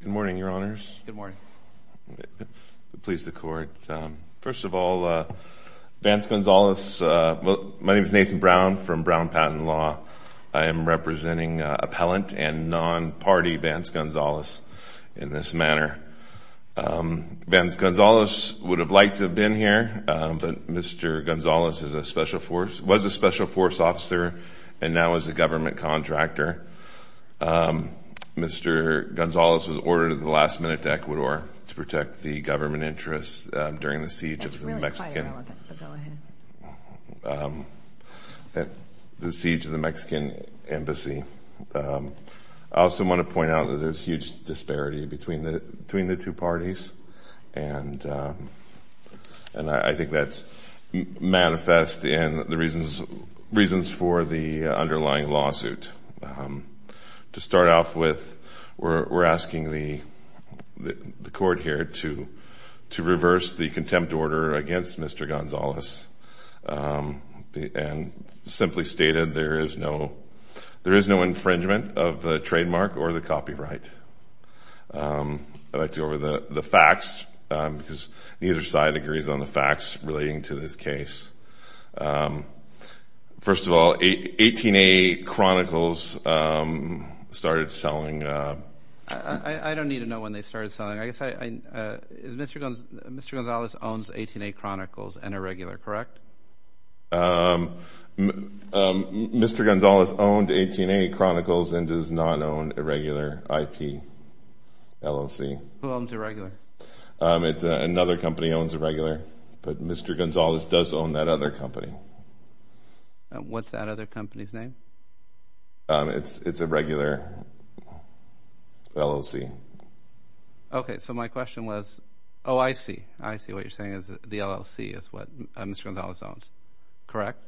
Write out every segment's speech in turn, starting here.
Good morning, Your Honors. Good morning. Please, the Court. First of all, Vance Gonzales, my name is Nathan Brown from Brown Patent Law. I am representing appellant and non-party Vance Gonzales in this manner. Vance Gonzales would have liked to have been here, but Mr. Gonzales was a special force officer and now is a government contractor. Mr. Gonzales was ordered at the last minute to Ecuador to protect the government interests during the siege of the Mexican embassy. I also want to point out that there is huge disparity between the two parties, and I think that's manifest in the reasons for the underlying lawsuit. To start off with, we're asking the Court here to reverse the contempt order against Mr. Gonzales and simply state that there is no infringement of the trademark or the copyright. I'd like to go over the facts, because neither side agrees on the facts relating to this case. First of all, 18A Chronicles started selling. I don't need to know when they started selling. Mr. Gonzales owns 18A Chronicles and Irregular, correct? Mr. Gonzales owned 18A Chronicles and does not own Irregular IP LLC. Who owns Irregular? Another company owns Irregular, but Mr. Gonzales does own that other company. What's that other company's name? It's Irregular LLC. Okay, so my question was, oh, I see. I see what you're saying is the LLC is what Mr. Gonzales owns, correct?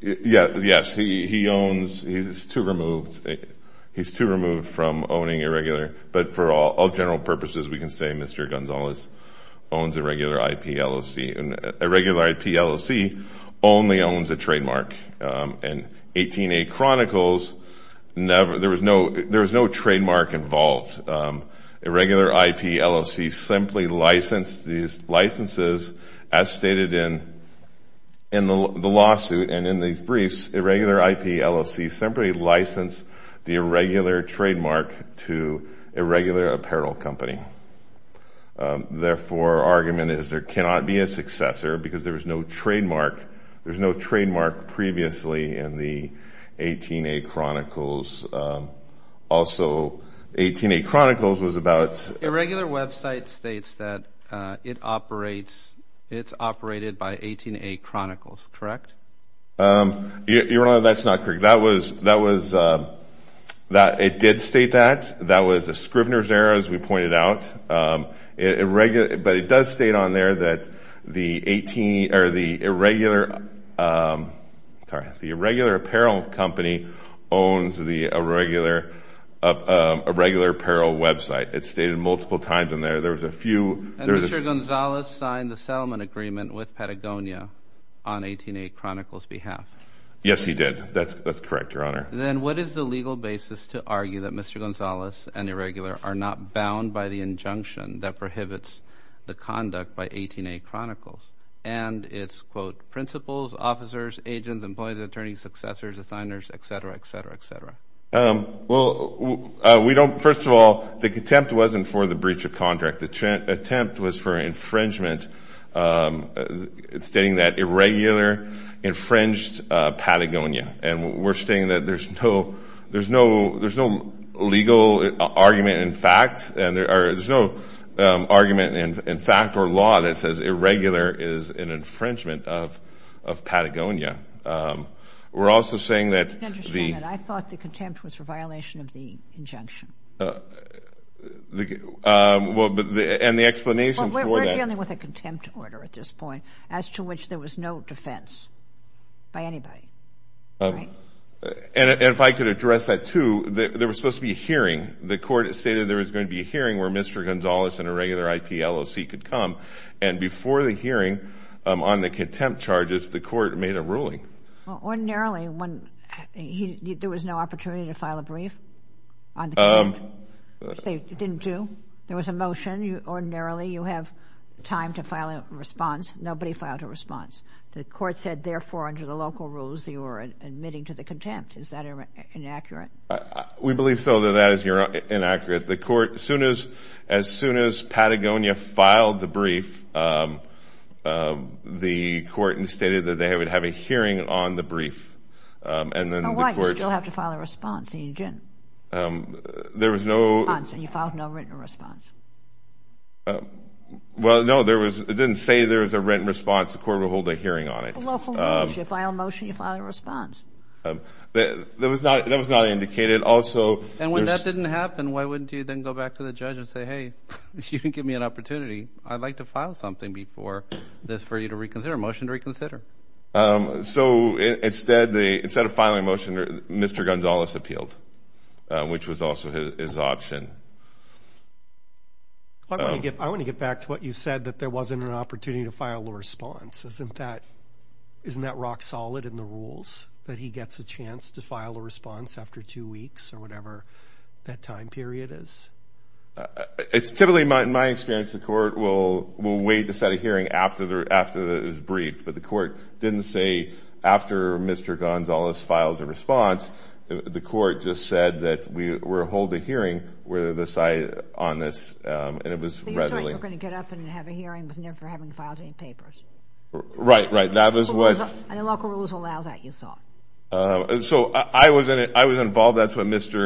Yes, he owns, he's too removed from owning Irregular, but for all general purposes, we can say Mr. Gonzales owns Irregular IP LLC. Irregular IP LLC only owns a trademark. In 18A Chronicles, there was no trademark involved. Irregular IP LLC simply licensed these licenses, as stated in the lawsuit and in these briefs, Irregular IP LLC simply licensed the Irregular trademark to Irregular Apparel Company. Therefore, our argument is there cannot be a successor because there was no trademark. There's no trademark previously in the 18A Chronicles. Also, 18A Chronicles was about- Irregular website states that it's operated by 18A Chronicles, correct? Your Honor, that's not correct. It did state that. That was a Scrivener's error, as we pointed out, but it does state on there that the Irregular Apparel Company owns the Irregular Apparel website. It's stated multiple times in there. There was a few- And Mr. Gonzales signed the settlement agreement with Patagonia on 18A Chronicles behalf. Yes, he did. That's correct, Your Honor. Then what is the legal basis to argue that Mr. Gonzales and Irregular are not bound by the injunction that prohibits the conduct by 18A Chronicles and its, quote, principals, officers, agents, employees, attorneys, successors, assigners, et cetera, et cetera, et cetera? Well, we don't- First of all, the contempt wasn't for the breach of contract. The attempt was for infringement, stating that Irregular infringed Patagonia. We're stating that there's no legal argument in fact. There's no argument in fact or law that says Irregular is an infringement of Patagonia. We're also saying that the- I thought the contempt was for violation of the injunction. The explanation for that- We're dealing with a And if I could address that, too, there was supposed to be a hearing. The court stated there was going to be a hearing where Mr. Gonzales and Irregular IP LOC could come. And before the hearing on the contempt charges, the court made a ruling. Ordinarily, when- There was no opportunity to file a brief on the court? They didn't do? There was a motion. Ordinarily, you have time to file a response. The court said, therefore, under the local rules, they were admitting to the contempt. Is that inaccurate? We believe so that that is inaccurate. The court- As soon as Patagonia filed the brief, the court stated that they would have a hearing on the brief. And then the court- So why did you still have to file a response? There was no- And you filed no written response? Well, no, it didn't say there was a written response. The court will hold a hearing on it. The local rules, you file a motion, you file a response. That was not indicated. Also- And when that didn't happen, why wouldn't you then go back to the judge and say, hey, you didn't give me an opportunity. I'd like to file something before this for you to reconsider, a motion to reconsider. So instead of filing a motion, Mr. Gonzales appealed, which was also his option. I want to get back to what you said, that there wasn't an opportunity to file a response. Isn't that rock solid in the rules, that he gets a chance to file a response after two weeks or whatever that time period is? It's typically, in my experience, the court will wait to set a hearing after it was briefed. But the court didn't say, after Mr. Gonzales files a response, the court just said that we'll hold a hearing with never having filed any papers. Right, right. That was what- And the local rules allow that, you thought. So I was involved. That's what Mr.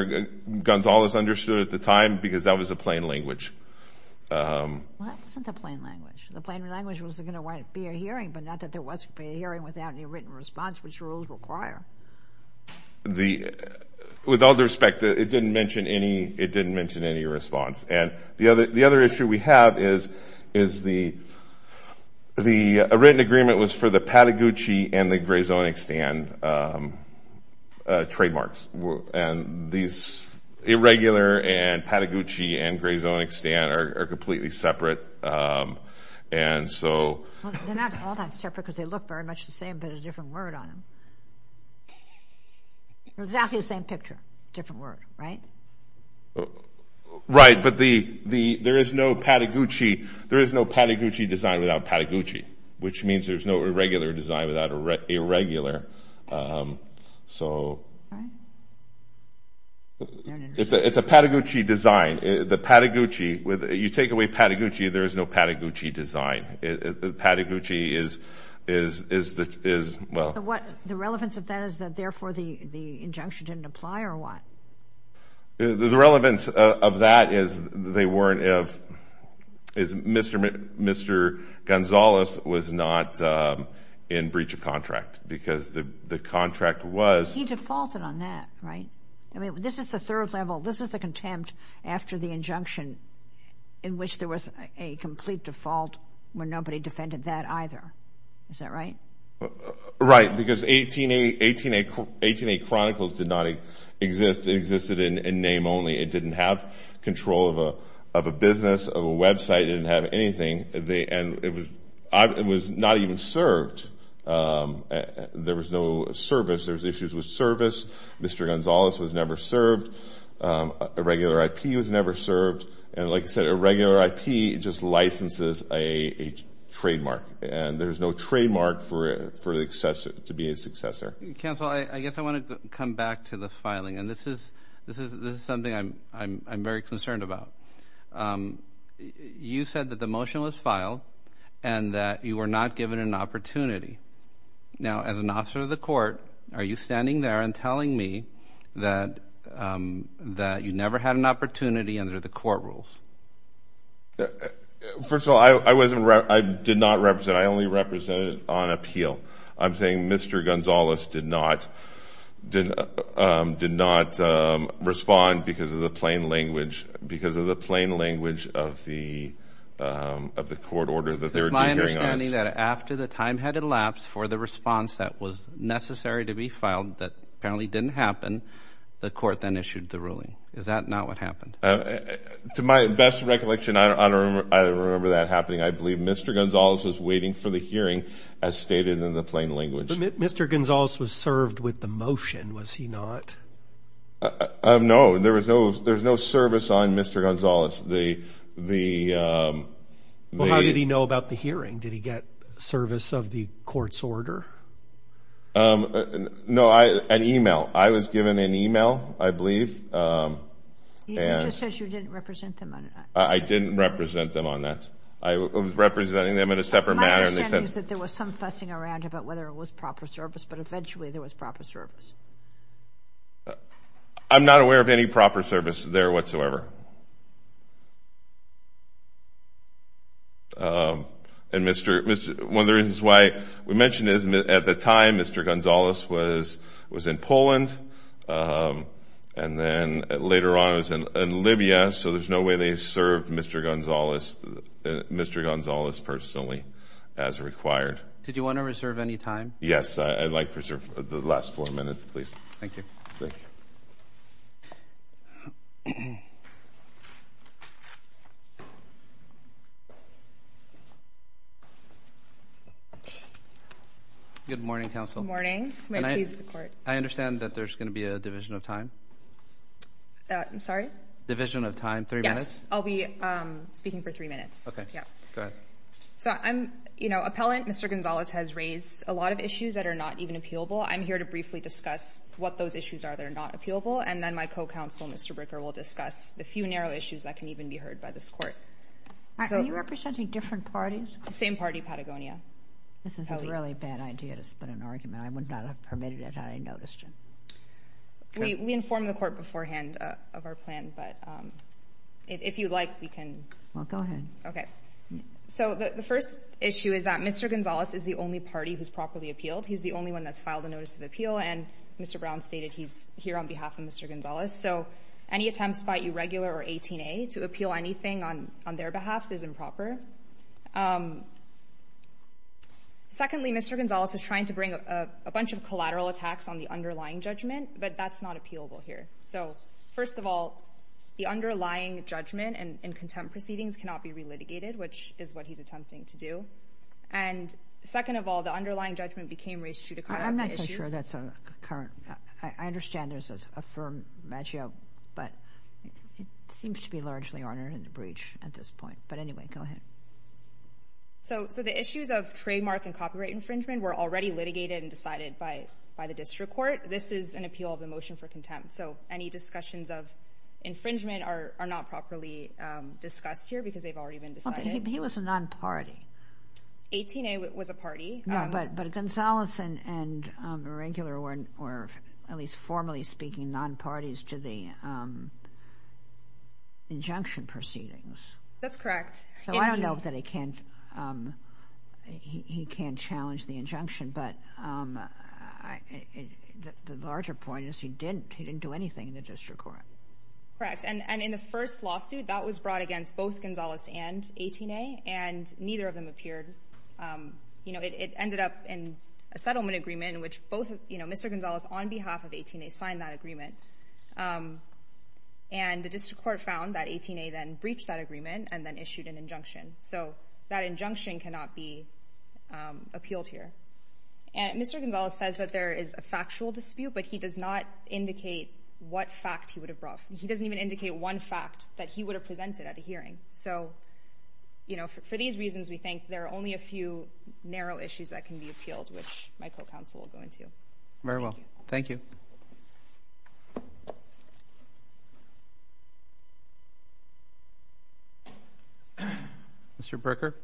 Gonzales understood at the time, because that was a plain language. Well, that wasn't a plain language. The plain language was going to be a hearing, but not that there was going to be a hearing without any written response, which rules require. With all due respect, it didn't mention any response. And the other issue we have is, the written agreement was for the Patagucci and the Grey Zonic stand trademarks. And these irregular and Patagucci and Grey Zonic stand are completely separate. And so- They're not all that separate, because they look very much the same, but a different word on them. Exactly the same picture, different word, right? Right, but there is no Patagucci design without Patagucci, which means there's no irregular design without irregular. So it's a Patagucci design. The Patagucci, you take away Patagucci, there is no Patagucci design. Patagucci is, well- The relevance of that is that, therefore, the injunction didn't apply or what? The relevance of that is they weren't, is Mr. Gonzales was not in breach of contract, because the contract was- He defaulted on that, right? I mean, this is the third level. This is the contempt after the injunction in which there was a complete default when nobody defended that either. Is that right? Right, because 18A Chronicles did not exist. It existed in name only. It didn't have control of a business, of a website. It didn't have anything. And it was not even served. There was no service. There was issues with service. Mr. Gonzales was never served. Irregular IP was never served. And like I said, irregular IP just licenses a trademark. And there's no trademark for to be a successor. Counsel, I guess I want to come back to the filing. And this is something I'm very concerned about. You said that the motion was filed and that you were not given an opportunity. Now, as an officer of the court, are you standing there and telling me that you never had an opportunity under the court rules? First of all, I did not represent. I only represented on appeal. I'm saying Mr. Gonzales did not respond because of the plain language of the court order that they're doing hearing on us. It's my understanding that after the time had elapsed for the response that was necessary to be filed that apparently didn't happen, the court then issued the ruling. Is that not what happened? To my best recollection, I don't remember that happening. I believe Mr. Gonzales was waiting for the hearing as stated in the plain language. Mr. Gonzales was served with the motion, was he not? No, there was no service on Mr. Gonzales. Well, how did he know about the hearing? Did he get service of the court's order? No, an email. I was given an email, I believe. He just says you didn't represent them on that. I didn't represent them on that. I was representing them in a separate matter. My understanding is that there was some fussing around about whether it was proper service, but eventually there was proper service. I'm not aware of any proper service. At the time, Mr. Gonzales was in Poland, and then later on he was in Libya, so there's no way they served Mr. Gonzales personally as required. Did you want to reserve any time? Yes, I'd like to reserve the last four minutes, please. Thank you. Thank you. Good morning, counsel. Good morning. May it please the court. I understand that there's going to be a division of time. I'm sorry? Division of time, three minutes? Yes, I'll be speaking for three minutes. Okay, go ahead. Appellant Mr. Gonzales has raised a lot of I'm here to briefly discuss what those issues are that are not appealable, and then my co-counsel, Mr. Bricker, will discuss the few narrow issues that can even be heard by this court. Are you representing different parties? Same party, Patagonia. This is a really bad idea to spin an argument. I would not have permitted it had I noticed it. We informed the court beforehand of our plan, but if you'd like, we can... Well, go ahead. Okay. So the first issue is that Mr. Gonzales is the only party who's filed a notice of appeal, and Mr. Brown stated he's here on behalf of Mr. Gonzales. So any attempts by a regular or 18A to appeal anything on their behalf is improper. Secondly, Mr. Gonzales is trying to bring a bunch of collateral attacks on the underlying judgment, but that's not appealable here. So first of all, the underlying judgment and contempt proceedings cannot be relitigated, which is what he's attempting to do. And second of all, underlying judgment became reissue to cut out the issues. I'm not so sure that's a current... I understand there's a firm match-up, but it seems to be largely honored in the breach at this point. But anyway, go ahead. So the issues of trademark and copyright infringement were already litigated and decided by the district court. This is an appeal of the motion for contempt. So any discussions of infringement are not properly discussed here because they've already been decided. He was a non-party. 18A was a party. Yeah, but Gonzales and Regular were at least formally speaking non-parties to the injunction proceedings. That's correct. So I don't know that he can't challenge the injunction, but the larger point is he didn't. He didn't do anything in the district court. Correct. And in the first lawsuit, that was brought against both 18A and neither of them appeared. It ended up in a settlement agreement in which both Mr. Gonzales on behalf of 18A signed that agreement. And the district court found that 18A then breached that agreement and then issued an injunction. So that injunction cannot be appealed here. And Mr. Gonzales says that there is a factual dispute, but he does not indicate what fact he would have brought. He doesn't even indicate one fact that he would have presented at a hearing. So for these reasons, we think there are only a few narrow issues that can be appealed, which my co-counsel will go into. Very well. Thank you. Mr. Bricker?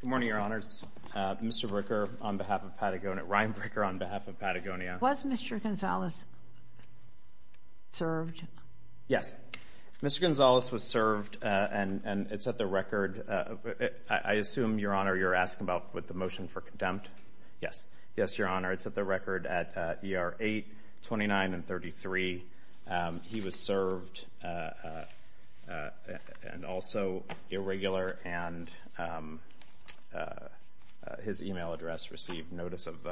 Good morning, Your Honors. Mr. Bricker on behalf of Patagonia. Ryan Bricker on behalf of Patagonia. Was Mr. Gonzales served? Yes. Mr. Gonzales was served and it's at the record. I assume, Your Honor, you're asking about with the motion for contempt? Yes. Yes, Your Honor. It's at the record at ER 829 and 33. He was served and also irregular and his email address received notice of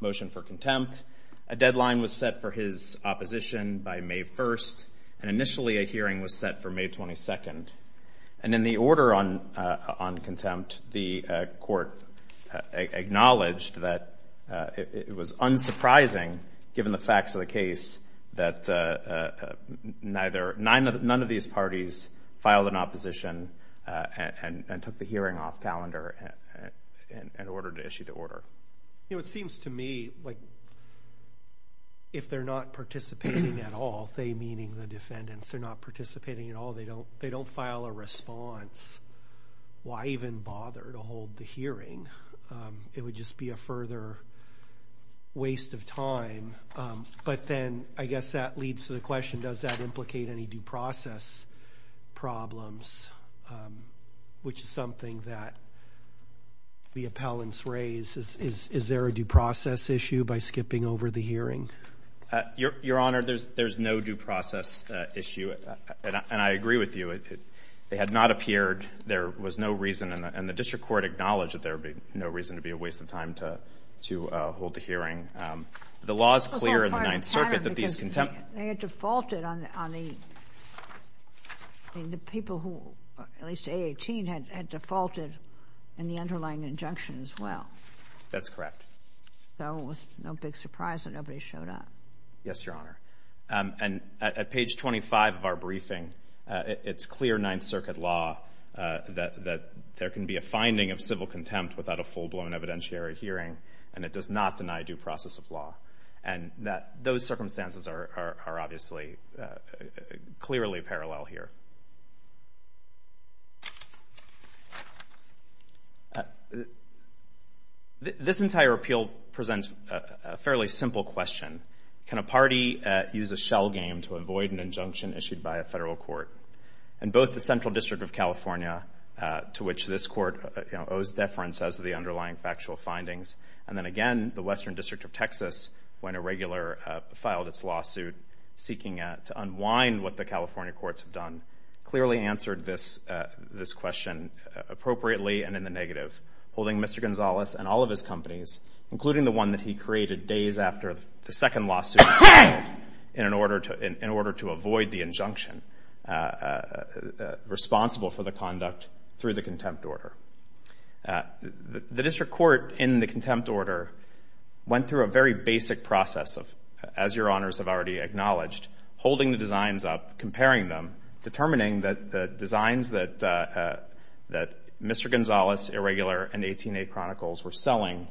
motion for contempt. A deadline was set for his opposition by May 1st and initially a hearing was set for May 22nd. And in the order on contempt, the court acknowledged that it was unsurprising, given the facts of the case, that none of these parties filed an opposition and took the hearing off calendar in order to issue the order. It seems to me like if they're not participating at all, they meaning the defendants, they're not participating at all. They don't file a response. Why even bother to hold the hearing? It would just be a further waste of time. But then I guess that leads to the question, does that implicate any due process problems, which is something that the appellants raise? Is there a due process issue by skipping over the hearing? Your Honor, there's no due process issue. And I agree with you. They had not appeared. There was no reason. And the district court acknowledged that there would be no reason to be a waste of time to hold the hearing. The law is clear in the Ninth Circuit that these contempt... They had defaulted on the... I mean, the people who, at least A18, had defaulted in the underlying injunction as well. That's correct. So it was no big surprise that nobody showed up. Yes, Your Honor. And at page 25 of our briefing, it's clear Ninth Circuit law that there can be a finding of civil contempt without a full-blown evidentiary hearing, and it does not deny due process of law. And those circumstances are obviously clearly parallel here. This entire appeal presents a fairly simple question. Can a party use a shell game to avoid an injunction issued by a federal court? And both the Central District of California, to which this court owes deference as to the underlying factual findings, and then again, the Western District of Texas, when a regular filed its lawsuit seeking to unwind what the California courts have done, clearly answered this question appropriately and in the negative, holding Mr. Gonzalez and all of his companies, including the one that he created days after the second lawsuit in order to avoid the injunction responsible for the conduct through the contempt order. The district court in the contempt order went through a very basic process of, as Your Honors have already acknowledged, holding the designs up, comparing them, determining that the designs that Mr. Gonzalez, Irregular, and 18A Chronicles were selling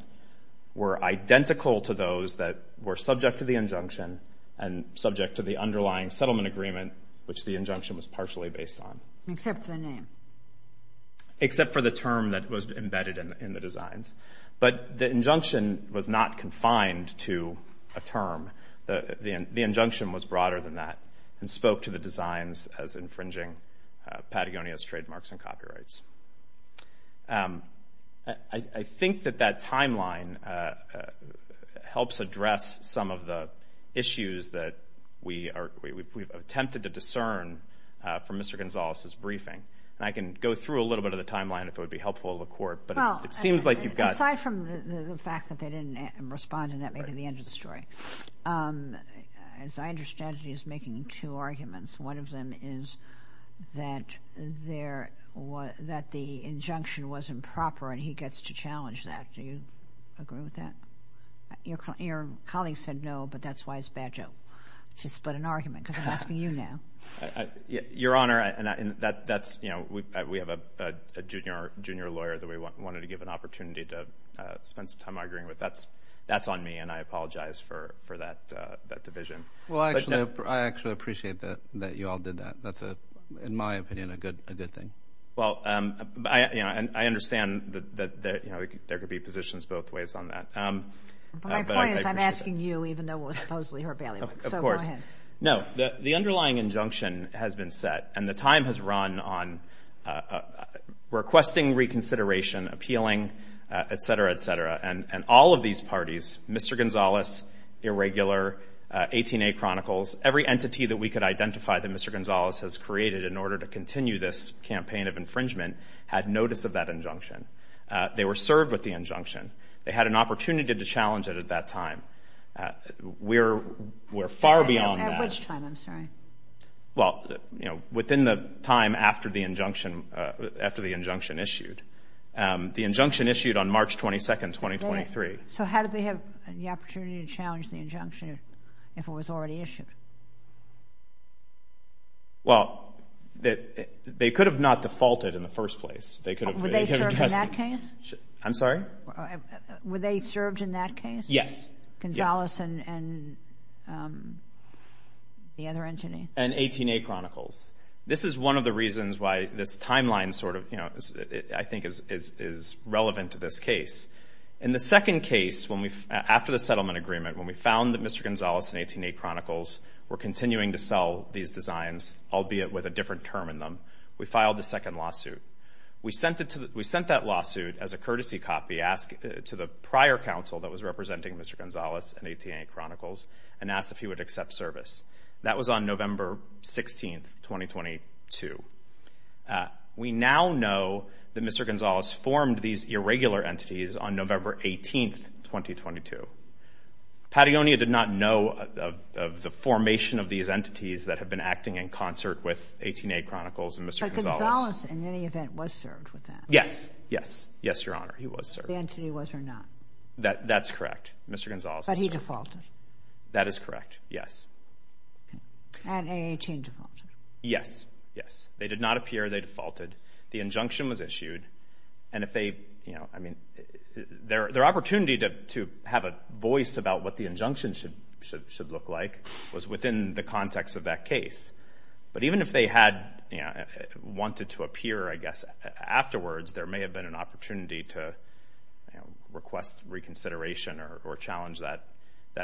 were identical to those that were subject to the injunction and subject to the underlying settlement agreement, which the injunction was partially based on. Except for the name. Except for the term that was embedded in the designs. But the injunction was not confined to a term. The injunction was broader than that and spoke to the designs as infringing Patagonia's trademarks and copyrights. I think that that timeline helps address some of the issues that we've attempted to discern from Mr. Gonzalez's briefing. And I can go through a little bit of the timeline if it would be helpful to the court, but it seems like you've got... Well, aside from the fact that they didn't respond, and that may be the end of the story, as I understand it, he's making two arguments. One of them is that the injunction wasn't proper and he gets to challenge that. Do you agree with that? Your colleague said no, but that's why it's a bad joke. Just to put an argument, because I'm asking you now. Your Honor, we have a junior lawyer that we wanted to give an opportunity to spend some time arguing with. That's on me, and I apologize for that division. I actually appreciate that you all did that. That's, in my opinion, a good thing. Well, I understand that there could be positions both ways on that. My point is I'm asking you, even though it was supposedly her bailiwick. Of course. Go ahead. No, the underlying injunction has been set, and the time has run on requesting reconsideration, appealing, et cetera, et cetera. And all of these parties, Mr. Gonzalez, Irregular, 18A Chronicles, every entity that we could identify that Mr. Gonzalez has created in order to continue this campaign of infringement had notice of that injunction. They were served with the injunction. They had an opportunity to challenge it at that time. We're far beyond that. At which time? I'm sorry. Well, within the time after the injunction issued. The injunction issued on March 22nd, 2023. So how did they have the opportunity to challenge the injunction if it was already issued? Well, they could have not defaulted in the first place. Were they served in that case? I'm sorry? Were they served in that case? Yes. Gonzalez and the other entity? And 18A Chronicles. This is one of the reasons why this timeline sort of, I think, is relevant to this case. In the second case, after the settlement agreement, when we found that Mr. Gonzalez and 18A Chronicles were continuing to sell these designs, albeit with a different term in them, we filed the second lawsuit. We sent that lawsuit as a courtesy copy to the prior council that was representing Mr. Gonzalez and 18A Chronicles and asked if he would accept service. That was on November 16th, 2022. Uh, we now know that Mr. Gonzalez formed these irregular entities on November 18th, 2022. Patagonia did not know of the formation of these entities that have been acting in concert with 18A Chronicles and Mr. Gonzalez. But Gonzalez, in any event, was served with that? Yes. Yes. Yes, Your Honor. He was served. The entity was or not? That's correct. Mr. Gonzalez was served. But he defaulted. That is correct. Yes. And 18A defaulted. Yes. Yes. They did not appear. They defaulted. The injunction was issued. And if they, you know, I mean, their opportunity to have a voice about what the injunction should look like was within the context of that case. But even if they had, you know, wanted to appear, I guess, afterwards, there may have been an opportunity to request reconsideration or challenge that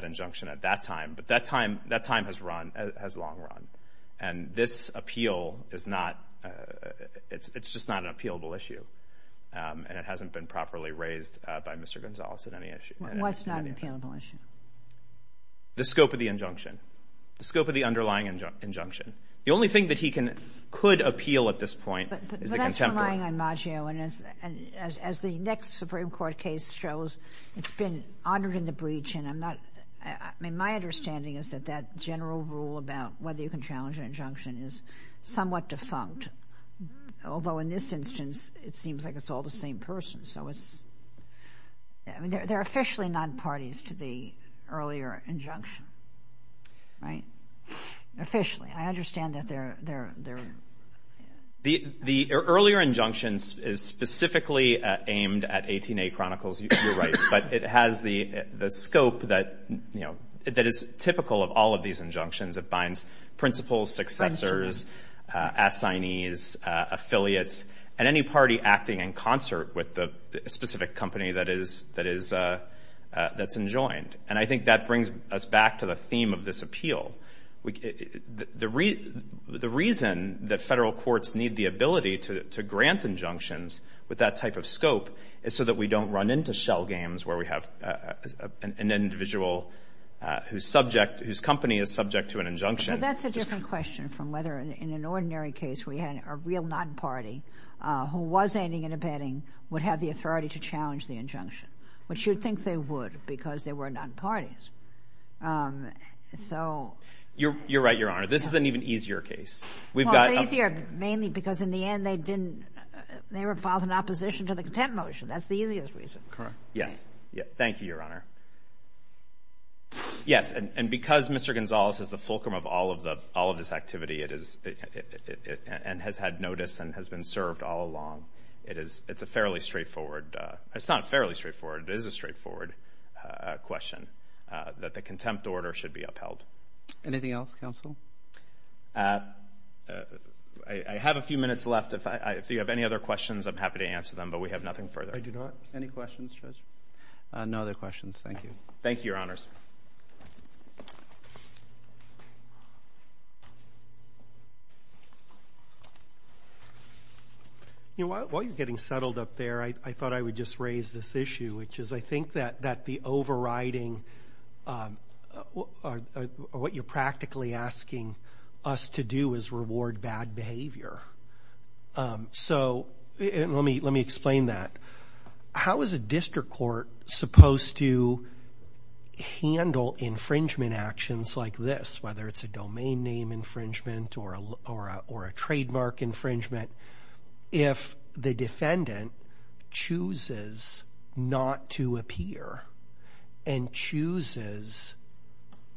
injunction at that time. But that time has run, has long run. And this appeal is not, it's just not an appealable issue. And it hasn't been properly raised by Mr. Gonzalez at any issue. What's not an appealable issue? The scope of the injunction. The scope of the underlying injunction. The only thing that he could appeal at this point is the contemporary. But that's relying on Maggio. And as the next Supreme Court case shows, it's been honored in the breach. And I'm not, I mean, my understanding is that that general rule about whether you can challenge an injunction is somewhat defunct. Although in this instance, it seems like it's all the same person. So it's, I mean, they're officially not parties to the earlier injunction. Right? Officially. I understand that they're, they're, they're. The earlier injunction is specifically aimed at 18A Chronicles. You're right. But it has the, the scope that, you know, that is typical of all of these injunctions. It binds principals, successors, assignees, affiliates, and any party acting in concert with the specific company that is, that is, that's enjoined. And I think that brings us back to the theme of this appeal. The reason that federal courts need the ability to grant injunctions with that type of scope is so that we don't run into shell games where we have an individual whose subject, whose company is subject to an injunction. But that's a different question from whether in an ordinary case we had a real non-party who was aiding and abetting would have the authority to challenge the injunction, which you'd think they would because they were non-parties. So. You're, you're right, Your Honor. This is an even easier case. We've got. Well, it's easier mainly because in the end they didn't, they were filed in opposition to the contempt motion. That's the easiest reason. Correct. Yes. Thank you, Your Honor. Yes, and because Mr. Gonzalez is the fulcrum of all of the, all of this activity, it is, and has had notice and has been served all along. It is, it's a fairly straightforward. It's not fairly straightforward. It is a straightforward question that the contempt order should be upheld. Anything else, Counsel? I have a few minutes left. If I, if you have any other questions, I'm happy to answer them. But we have nothing further. I do not. Any questions, Judge? No other questions. Thank you. Thank you, Your Honors. You know, while you're getting settled up there, I thought I would just raise this issue, which is I think that, that the overriding, what you're practically asking us to do is reward bad behavior. So, let me, let me explain that. How is a district court supposed to handle infringement actions like this, whether it's a domain name infringement or a, or a, or a trademark infringement, if the defendant chooses not to appear and chooses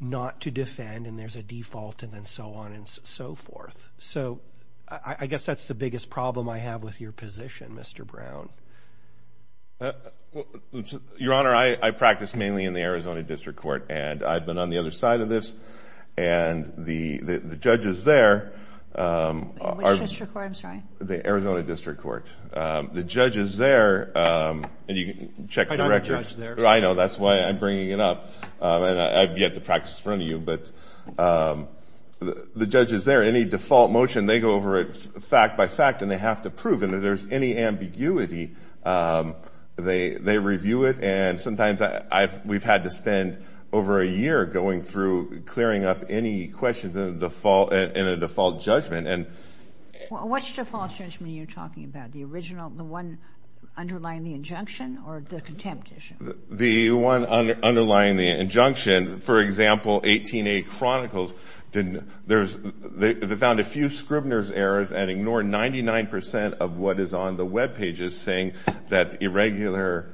not to defend, and there's a default, and then so on and so forth? So, I guess that's the biggest problem I have with your position, Mr. Brown. Well, Your Honor, I, I practice mainly in the Arizona District Court, and I've been on the other side of this. And the, the, the judges there are- Which district court, I'm sorry? The Arizona District Court. The judges there, and you can check the record- I'm not a judge there. I know. That's why I'm bringing it up. And I've yet to practice in front of you. But the judges there, any default motion, they go over it fact by fact, and they have to prove it. And if there's any ambiguity, they, they review it. And sometimes I've, we've had to spend over a year going through clearing up any questions in the default, in a default judgment. And- What's the default judgment you're talking about? The original, the one underlying the injunction or the contempt issue? The one underlying the injunction, for example, 18A Chronicles didn't, there's, they found a few Scribner's errors and ignore 99% of what is on the webpages, saying that irregular,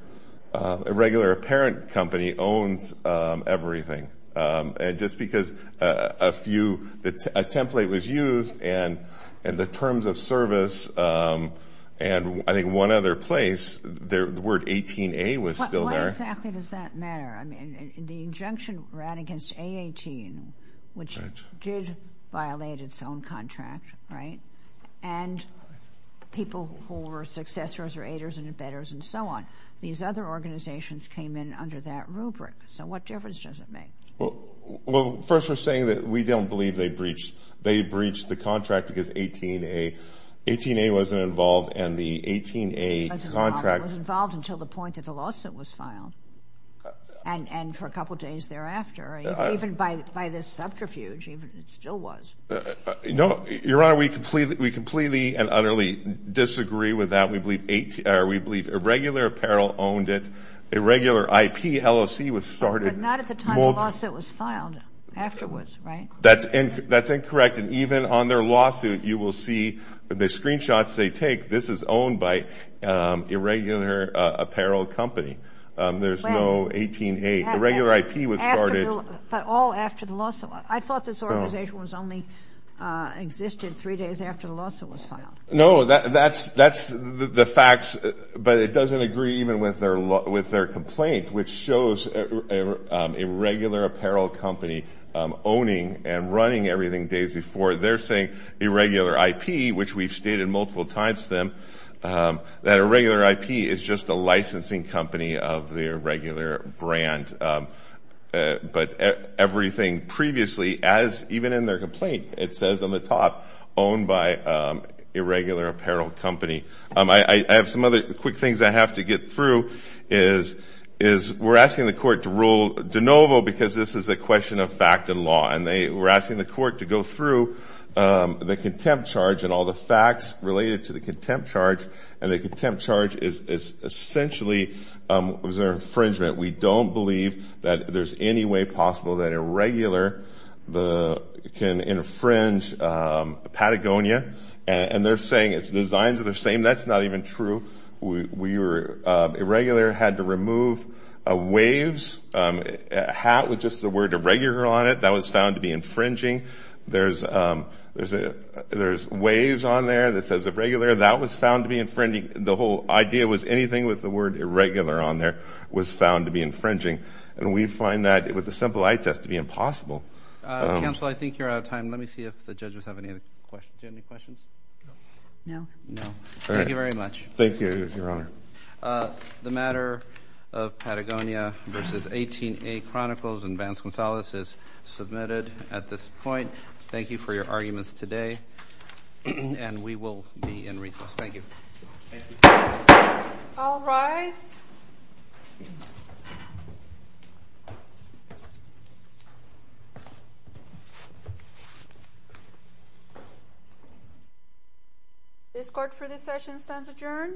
irregular parent company owns everything. And just because a few, a template was used and, and the terms of service, and I think one other place, the word 18A was still there. Why exactly does that matter? I mean, the injunction ran against A18, which- Right. Did violate its own contract, right? And people who were successors or aiders and embedders and so on, these other organizations came in under that rubric. So what difference does it make? Well, well, first we're saying that we don't believe they breached, they breached the contract because 18A, 18A wasn't involved and the 18A contract- Wasn't involved until the point that the lawsuit was filed. And, and for a couple of days thereafter, even by, by this subterfuge, it still was. No, Your Honor, we completely, we completely and utterly disagree with that. We believe 18, or we believe Irregular Apparel owned it. Irregular IP, LLC was started- But not at the time the lawsuit was filed. Afterwards, right? That's incorrect. And even on their lawsuit, you will see the screenshots they take. This is owned by Irregular Apparel Company. There's no 18A. Irregular IP was started- But all after the lawsuit. I thought this organization was only existed three days after the lawsuit was filed. No, that's, that's the facts. But it doesn't agree even with their, with their complaint, which shows Irregular Apparel Company owning and running everything days before. They're saying Irregular IP, which we've stated multiple times to them, that Irregular IP is just a licensing company of the Irregular brand. But everything previously, as even in their complaint, it says on the top, owned by Irregular Apparel Company. I have some other quick things I have to get through is, is we're asking the court to rule de novo because this is a question of fact and law. And they were asking the court to go through the contempt charge and all the facts related to the contempt charge. And the contempt charge is essentially, was an infringement. We don't believe that there's any way possible that Irregular can infringe Patagonia. And they're saying it's designs that are the same. That's not even true. We were, Irregular had to remove a waves hat with just the word Irregular on it. That was found to be infringing. There's, there's a, there's waves on there that says Irregular. That was found to be infringing. The whole idea was anything with the word Irregular on there was found to be infringing. And we find that with a simple eye test to be impossible. Counsel, I think you're out of time. Let me see if the judges have any other questions. Do you have any questions? No. No. Thank you very much. Thank you, Your Honor. The matter of Patagonia versus 18A Chronicles and Vance Gonzalez is submitted at this point. Thank you for your arguments today. And we will be in recess. Thank you. Thank you. All rise. This court for this session stands adjourned.